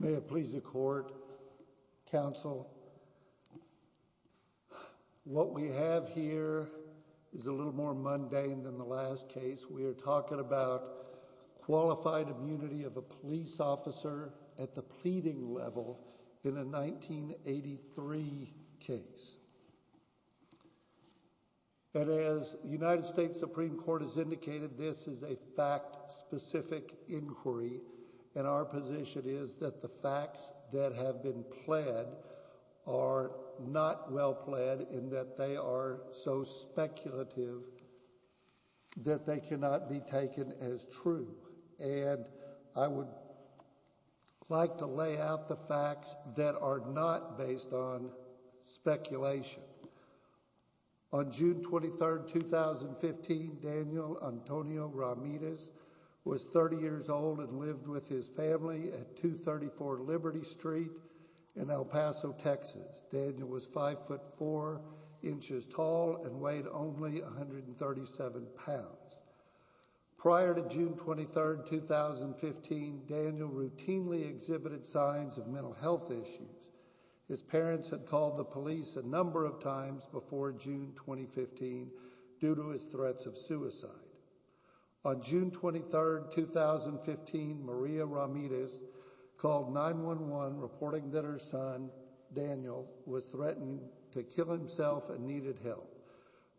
May it please the court, counsel, what we have here is a little more mundane than the last case. We're talking about qualified immunity of a police officer at the pleading level in a 1983 case. And as the United States Supreme Court has indicated, this is a fact-specific inquiry. And our position is that the facts that have been pled are not well pled and that they are so speculative that they cannot be taken as true. And I would like to lay out the facts that are not based on speculation. On June 23, 2015, Daniel Antonio Ramirez was 30 years old and lived with his family at 234 Liberty Street in El Paso, Texas. Daniel was 5'4 inches tall and weighed only 137 pounds. Prior to June 23, 2015, Daniel routinely exhibited signs of mental health issues. His parents had called the police a number of times before June 2015 due to his threats of suicide. On June 23, 2015, Maria Ramirez called 911 reporting that her son, Daniel, was threatened to kill himself and needed help.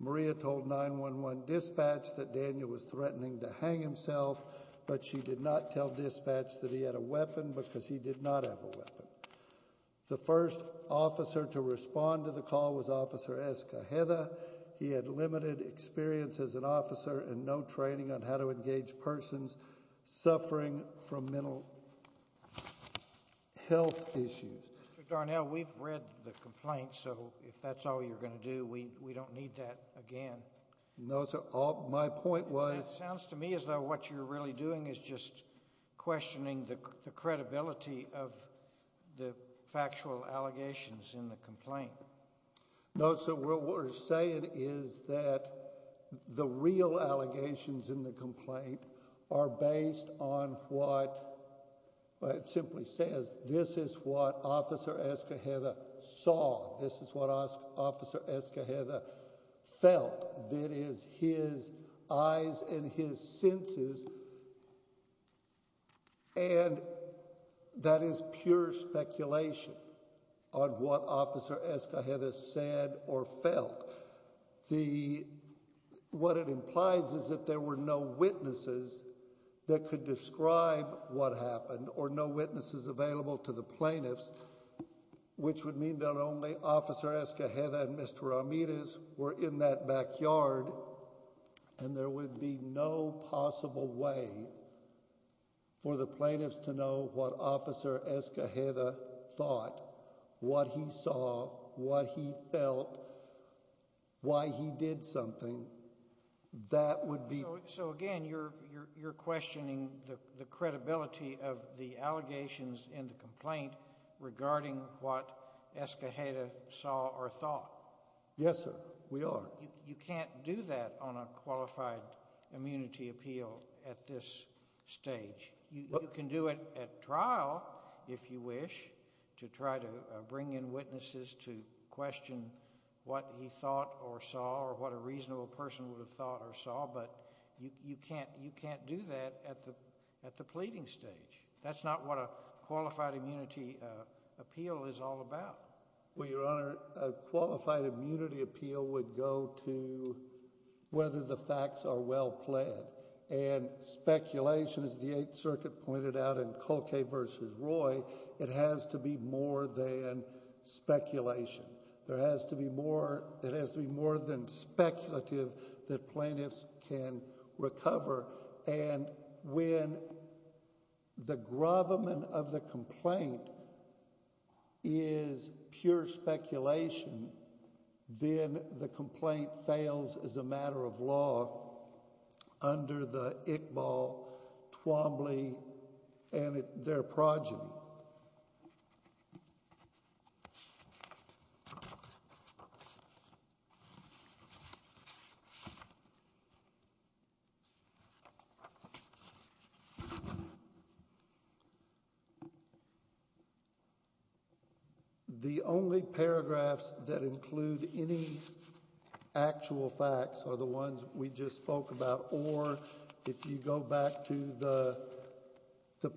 Maria told 911 dispatch that Daniel was threatening to hang himself, but she did not tell dispatch that he had a weapon because he did not have a weapon. The first officer to respond to the call was Officer Escajeda. He had limited experience as an officer and no training on how to engage persons suffering from mental health issues. Mr. Darnell, we've read the complaint, so if that's all you're going to do, we don't need that again. No, sir. My point was— It sounds to me as though what you're really doing is just questioning the credibility of the factual allegations in the complaint. No, sir. What we're saying is that the real allegations in the complaint are based on what—it simply says this is what Officer Escajeda saw, this is what Officer Escajeda felt. That is his eyes and his senses, and that is pure speculation on what Officer Escajeda said or felt. But what it implies is that there were no witnesses that could describe what happened or no witnesses available to the plaintiffs, which would mean that only Officer Escajeda and Mr. Ramirez were in that backyard. And there would be no possible way for the plaintiffs to know what Officer Escajeda thought, what he saw, what he felt, why he did something. That would be— So, again, you're questioning the credibility of the allegations in the complaint regarding what Escajeda saw or thought. Yes, sir. We are. You can't do that on a qualified immunity appeal at this stage. You can do it at trial, if you wish, to try to bring in witnesses to question what he thought or saw or what a reasonable person would have thought or saw, but you can't do that at the pleading stage. That's not what a qualified immunity appeal is all about. Well, Your Honor, a qualified immunity appeal would go to whether the facts are well pled, and speculation, as the Eighth Circuit pointed out in Colquet v. Roy, it has to be more than speculation. There has to be more—it has to be more than speculative that plaintiffs can recover. And when the gravamen of the complaint is pure speculation, then the complaint fails as a matter of law under the Iqbal, Twombly, and their progeny. The only paragraphs that include any actual facts are the ones we just spoke about, or if you go back to the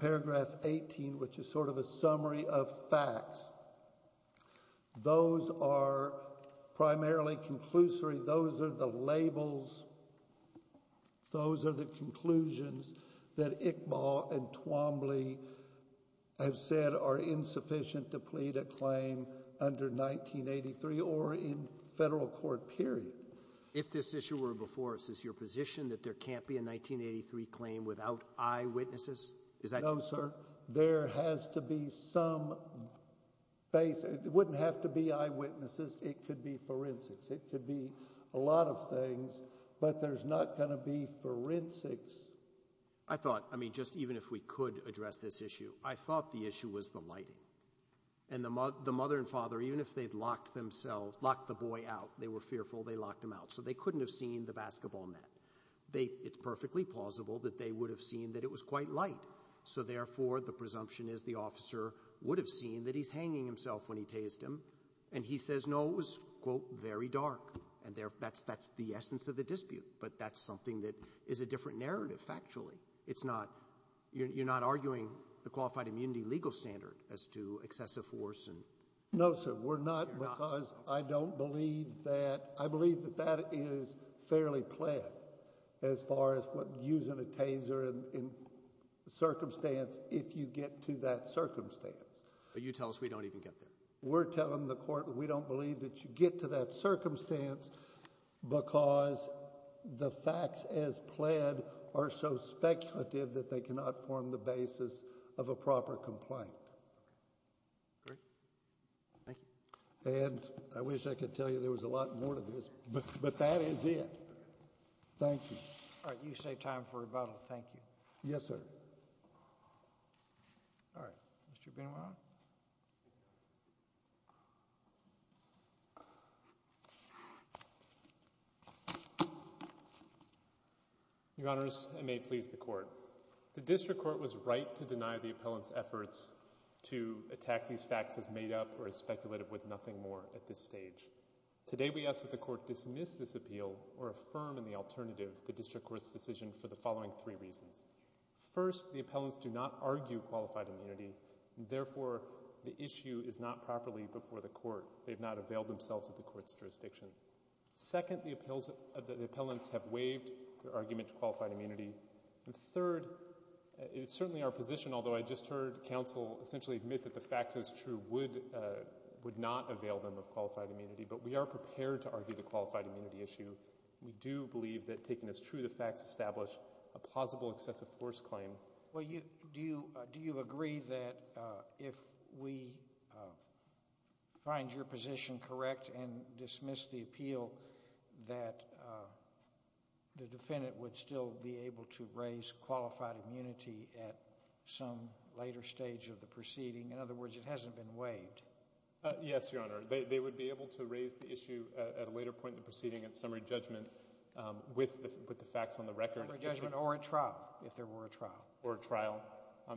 paragraph 18, which is sort of a summary of facts, those are primarily conclusory. Those are the labels. Those are the conclusions that Iqbal and Twombly have said are insufficient to plead a claim under 1983 or in federal court period. If this issue were before us, is your position that there can't be a 1983 claim without eyewitnesses? No, sir. There has to be some—it wouldn't have to be eyewitnesses. It could be forensics. It could be a lot of things, but there's not going to be forensics. I thought—I mean, just even if we could address this issue, I thought the issue was the lighting. And the mother and father, even if they'd locked themselves—locked the boy out, they were fearful they locked him out, so they couldn't have seen the basketball net. It's perfectly plausible that they would have seen that it was quite light. So, therefore, the presumption is the officer would have seen that he's hanging himself when he tased him, and he says, no, it was, quote, very dark. And that's the essence of the dispute, but that's something that is a different narrative, factually. It's not—you're not arguing the qualified immunity legal standard as to excessive force and— —if you get to that circumstance. But you tell us we don't even get there. We're telling the court we don't believe that you get to that circumstance because the facts as pled are so speculative that they cannot form the basis of a proper complaint. Great. Thank you. And I wish I could tell you there was a lot more to this, but that is it. Thank you. All right. You saved time for rebuttal. Thank you. Yes, sir. All right. Mr. Benoit. Your Honors, it may please the court. The district court was right to deny the appellant's efforts to attack these facts as made up or as speculative with nothing more at this stage. Today we ask that the court dismiss this appeal or affirm in the alternative the district court's decision for the following three reasons. First, the appellants do not argue qualified immunity. Therefore, the issue is not properly before the court. They have not availed themselves of the court's jurisdiction. Second, the appellants have waived their argument to qualified immunity. Third, it is certainly our position, although I just heard counsel essentially admit that the facts as true would not avail them of qualified immunity, but we are prepared to argue the qualified immunity issue. We do believe that taken as true the facts establish a plausible excessive force claim. Well, do you agree that if we find your position correct and dismiss the appeal that the defendant would still be able to raise qualified immunity at some later stage of the proceeding? In other words, it hasn't been waived. Yes, Your Honor. They would be able to raise the issue at a later point in the proceeding in summary judgment with the facts on the record. Summary judgment or a trial, if there were a trial. Or a trial.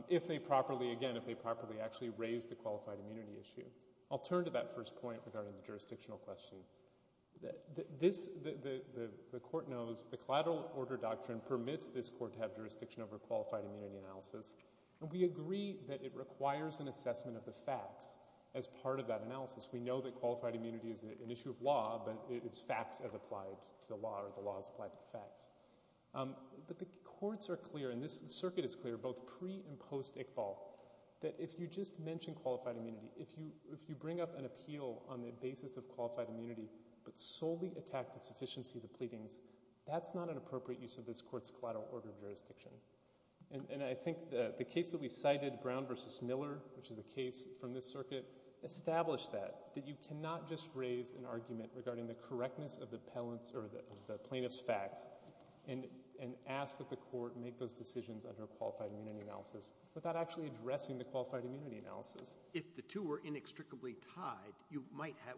If they properly, again, if they properly actually raise the qualified immunity issue. I'll turn to that first point regarding the jurisdictional question. The court knows the collateral order doctrine permits this court to have jurisdiction over qualified immunity analysis. And we agree that it requires an assessment of the facts as part of that analysis. We know that qualified immunity is an issue of law, but it's facts as applied to the law or the law as applied to the facts. But the courts are clear, and this circuit is clear, both pre and post Iqbal, that if you just mention qualified immunity, if you bring up an appeal on the basis of qualified immunity but solely attack the sufficiency of the pleadings, that's not an appropriate use of this court's collateral order of jurisdiction. And I think the case that we cited, Brown v. Miller, which is a case from this circuit, established that. That you cannot just raise an argument regarding the correctness of the plaintiff's facts and ask that the court make those decisions under qualified immunity analysis without actually addressing the qualified immunity analysis. If the two were inextricably tied,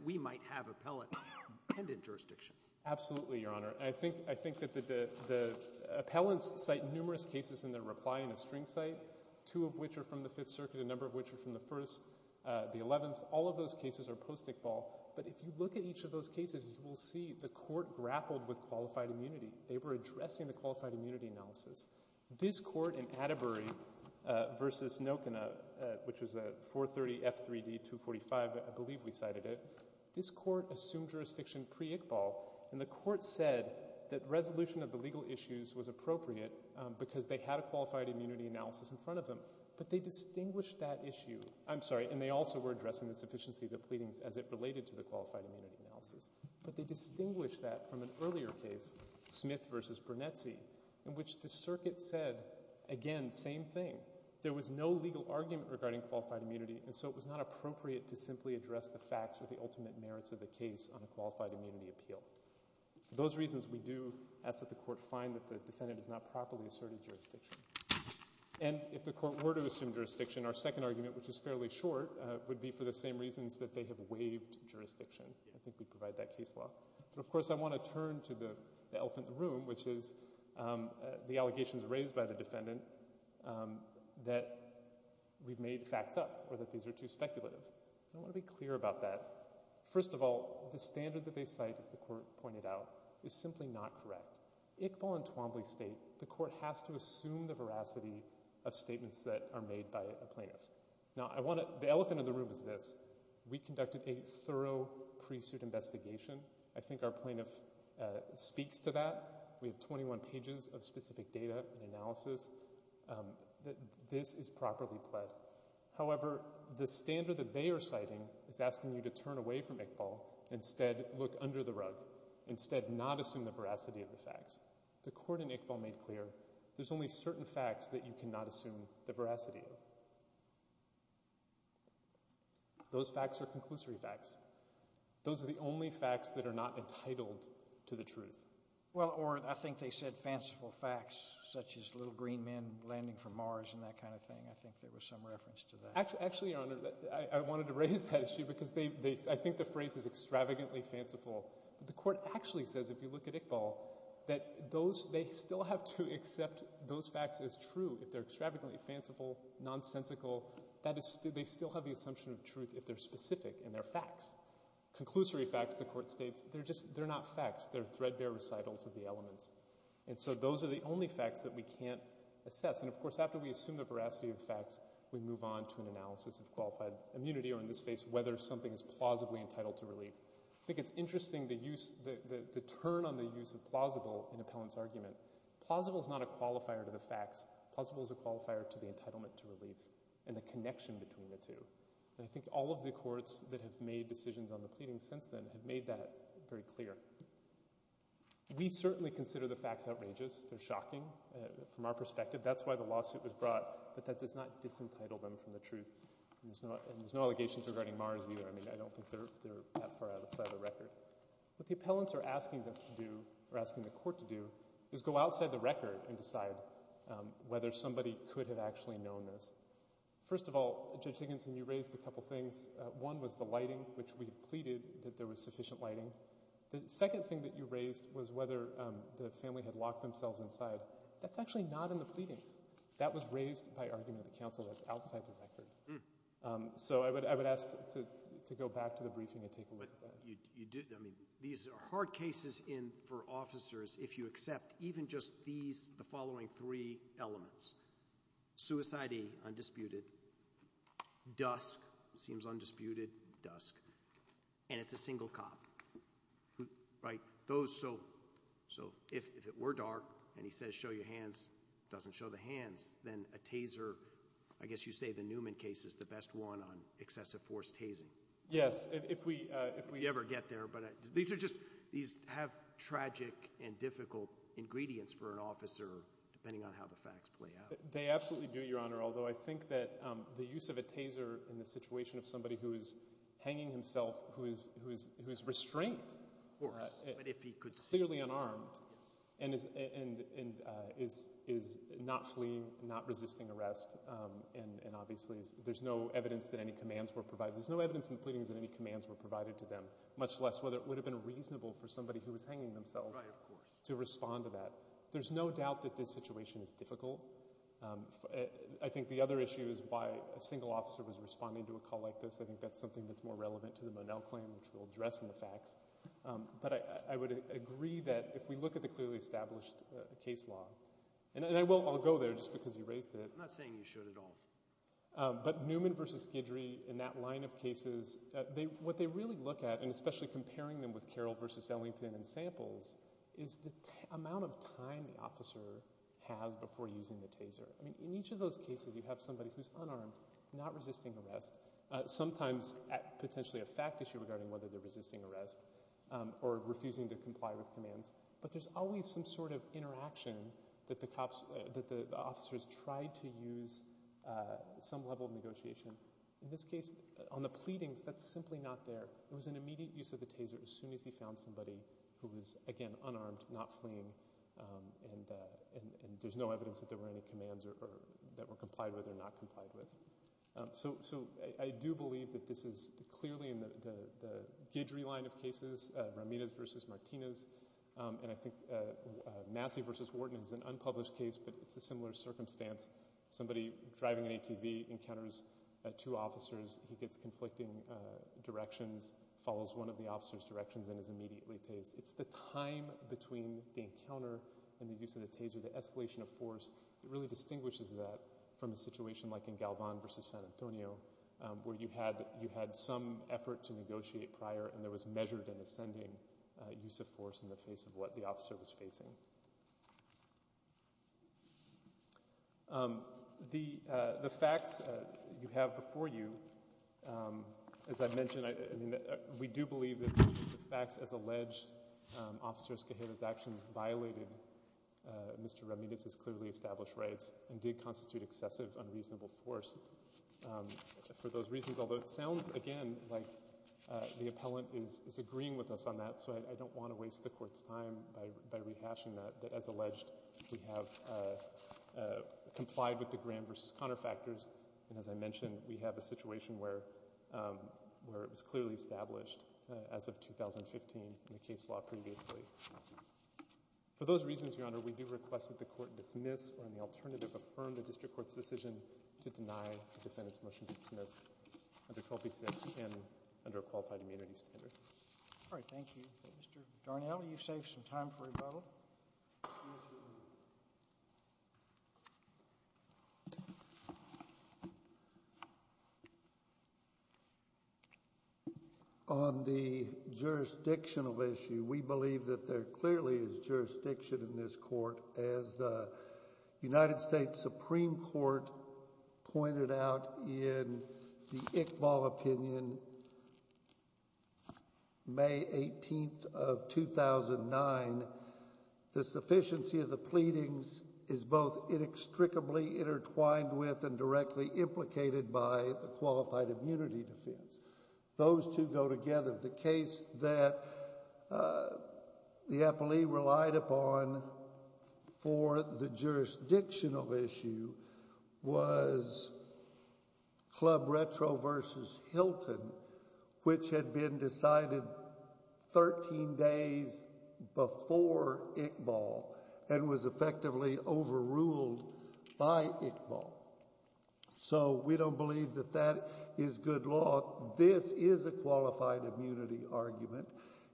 we might have appellant-dependent jurisdiction. Absolutely, Your Honor. I think that the appellants cite numerous cases in their reply in a string cite, two of which are from the Fifth Circuit, a number of which are from the First, the Eleventh. All of those cases are post-Iqbal. But if you look at each of those cases, you will see the court grappled with qualified immunity. They were addressing the qualified immunity analysis. This court in Atterbury v. Nokena, which was a 430F3D245, I believe we cited it, this court assumed jurisdiction pre-Iqbal, and the court said that resolution of the legal issues was appropriate because they had a qualified immunity analysis in front of them. But they distinguished that issue. I'm sorry, and they also were addressing the sufficiency of the pleadings as it related to the qualified immunity analysis. But they distinguished that from an earlier case, Smith v. Brunetzi, in which the circuit said, again, same thing. There was no legal argument regarding qualified immunity, and so it was not appropriate to simply address the facts or the ultimate merits of the case on a qualified immunity appeal. For those reasons, we do ask that the court find that the defendant has not properly asserted jurisdiction. And if the court were to assume jurisdiction, our second argument, which is fairly short, would be for the same reasons that they have waived jurisdiction. I think we provide that case law. But, of course, I want to turn to the elephant in the room, which is the allegations raised by the defendant that we've made facts up or that these are too speculative. I want to be clear about that. First of all, the standard that they cite, as the court pointed out, is simply not correct. Iqbal and Twombly state the court has to assume the veracity of statements that are made by a plaintiff. Now, the elephant in the room is this. We conducted a thorough pre-suit investigation. I think our plaintiff speaks to that. We have 21 pages of specific data and analysis. This is properly pled. However, the standard that they are citing is asking you to turn away from Iqbal, instead look under the rug, instead not assume the veracity of the facts. The court in Iqbal made clear there's only certain facts that you cannot assume the veracity of. Those facts are conclusory facts. Those are the only facts that are not entitled to the truth. Or I think they said fanciful facts, such as little green men landing from Mars and that kind of thing. I think there was some reference to that. Actually, Your Honor, I wanted to raise that issue because I think the phrase is extravagantly fanciful. But the court actually says, if you look at Iqbal, that they still have to accept those facts as true. If they're extravagantly fanciful, nonsensical, they still have the assumption of truth if they're specific and they're facts. Conclusory facts, the court states, they're not facts. They're threadbare recitals of the elements. And so those are the only facts that we can't assess. And, of course, after we assume the veracity of the facts, we move on to an analysis of qualified immunity or, in this case, whether something is plausibly entitled to relief. I think it's interesting the turn on the use of plausible in Appellant's argument. Plausible is not a qualifier to the facts. Plausible is a qualifier to the entitlement to relief and the connection between the two. And I think all of the courts that have made decisions on the pleadings since then have made that very clear. We certainly consider the facts outrageous. They're shocking from our perspective. That's why the lawsuit was brought. But that does not disentitle them from the truth. And there's no allegations regarding Mars either. I mean, I don't think they're that far outside the record. What the appellants are asking us to do or asking the court to do is go outside the record and decide whether somebody could have actually known this. First of all, Judge Higginson, you raised a couple things. One was the lighting, which we've pleaded that there was sufficient lighting. The second thing that you raised was whether the family had locked themselves inside. That's actually not in the pleadings. That was raised by argument of the counsel that's outside the record. So I would ask to go back to the briefing and take a look at that. These are hard cases for officers if you accept even just the following three elements. Suicidee, undisputed. Dusk, seems undisputed, dusk. And it's a single cop. Right? So if it were dark and he says show your hands, doesn't show the hands, then a taser, I guess you say the Newman case is the best one on excessive force tasing. Yes, if we ever get there. But these have tragic and difficult ingredients for an officer depending on how the facts play out. They absolutely do, Your Honor, although I think that the use of a taser in the situation of somebody who is hanging himself, who is restrained, clearly unarmed, and is not fleeing, not resisting arrest, and obviously there's no evidence that any commands were provided. There's no evidence in the pleadings that any commands were provided to them, much less whether it would have been reasonable for somebody who was hanging themselves to respond to that. There's no doubt that this situation is difficult. I think the other issue is why a single officer was responding to a call like this. I think that's something that's more relevant to the Monell claim, which we'll address in the facts. But I would agree that if we look at the clearly established case law, and I'll go there just because you raised it. I'm not saying you should at all. But Newman v. Guidry in that line of cases, what they really look at, and especially comparing them with Carroll v. Ellington in samples, is the amount of time the officer has before using the taser. In each of those cases you have somebody who's unarmed, not resisting arrest, sometimes potentially a fact issue regarding whether they're resisting arrest or refusing to comply with commands, but there's always some sort of interaction that the officers tried to use some level of negotiation. In this case, on the pleadings, that's simply not there. It was an immediate use of the taser as soon as he found somebody who was, again, unarmed, not fleeing, and there's no evidence that there were any commands that were complied with or not complied with. So I do believe that this is clearly in the Guidry line of cases, Ramirez v. Martinez, and I think Massey v. Wharton is an unpublished case, but it's a similar circumstance. Somebody driving an ATV encounters two officers. He gets conflicting directions, follows one of the officers' directions, and is immediately tased. It's the time between the encounter and the use of the taser, the escalation of force, that really distinguishes that from a situation like in Galvan v. San Antonio where you had some effort to negotiate prior and there was measured and ascending use of force in the face of what the officer was facing. The facts you have before you, as I mentioned, we do believe that the facts, as alleged, Officer Escajeda's actions violated Mr. Ramirez's clearly established rights and did constitute excessive unreasonable force for those reasons, although it sounds, again, like the appellant is agreeing with us on that, so I don't want to waste the Court's time by rehashing that, that as alleged we have complied with the Graham v. Conner factors, and as I mentioned, we have a situation where it was clearly established as of 2015 in the case law previously. For those reasons, Your Honor, we do request that the Court dismiss or in the alternative affirm the District Court's decision to deny the defendant's motion to dismiss under 12b-6 and under a qualified immunity standard. All right, thank you. Mr. Darnell, you've saved some time for rebuttal. Yes, Your Honor. On the jurisdictional issue, we believe that there clearly is jurisdiction in this Court. As the United States Supreme Court pointed out in the Iqbal opinion, May 18th of 2009, the sufficiency of the pleadings is both inextricably intertwined with and directly implicated by a qualified immunity defense. Those two go together. The case that the appellee relied upon for the jurisdictional issue was Club Retro v. Hilton, which had been decided 13 days before Iqbal and was effectively overruled by Iqbal. So we don't believe that that is good law. This is a qualified immunity argument.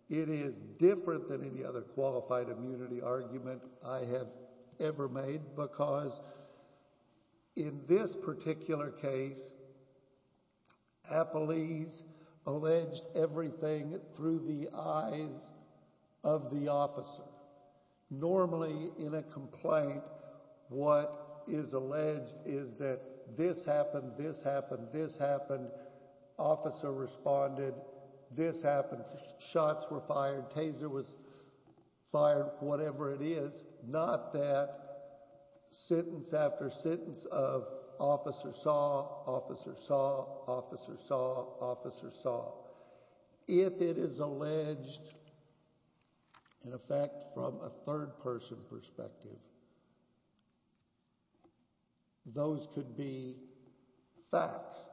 It is different than any other qualified immunity argument I have ever made because in this particular case, appellees alleged everything through the eyes of the officer. Normally, in a complaint, what is alleged is that this happened, this happened, this happened, officer responded, this happened, shots were fired, taser was fired, whatever it is. Not that sentence after sentence of officer saw, officer saw, officer saw, officer saw. If it is alleged, in effect, from a third-person perspective, those could be facts.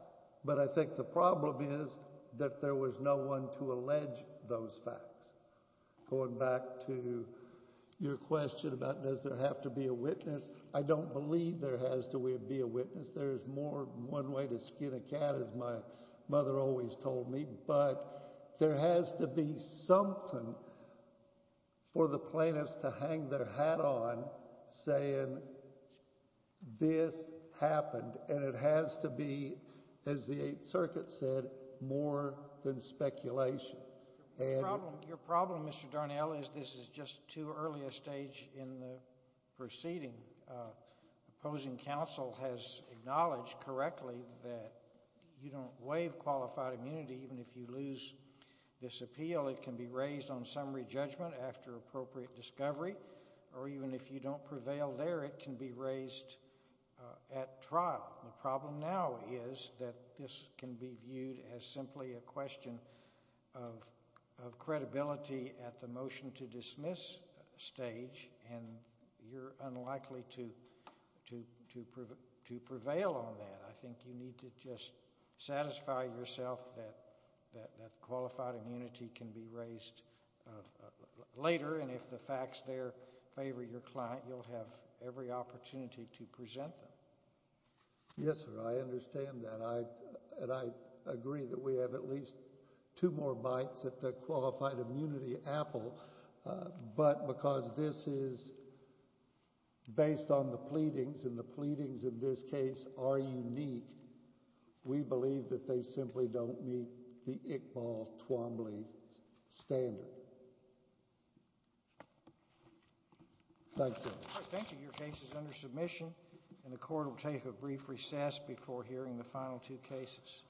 But I think the problem is that there was no one to allege those facts. Going back to your question about does there have to be a witness, I don't believe there has to be a witness. There is more than one way to skin a cat, as my mother always told me, but there has to be something for the plaintiffs to hang their hat on saying this happened, and it has to be, as the Eighth Circuit said, more than speculation. Your problem, Mr. Darnell, is this is just too early a stage in the proceeding. Opposing counsel has acknowledged correctly that you don't waive qualified immunity even if you lose this appeal. It can be raised on summary judgment after appropriate discovery, or even if you don't prevail there, it can be raised at trial. The problem now is that this can be viewed as simply a question of credibility at the motion to dismiss stage, and you're unlikely to prevail on that. I think you need to just satisfy yourself that qualified immunity can be raised later, and if the facts there favor your client, you'll have every opportunity to present them. Yes, sir, I understand that, and I agree that we have at least two more bites at the qualified immunity apple, but because this is based on the pleadings, and the pleadings in this case are unique, we believe that they simply don't meet the Iqbal-Twombly standard. Thank you. Thank you. Your case is under submission, and the court will take a brief recess before hearing the final two cases.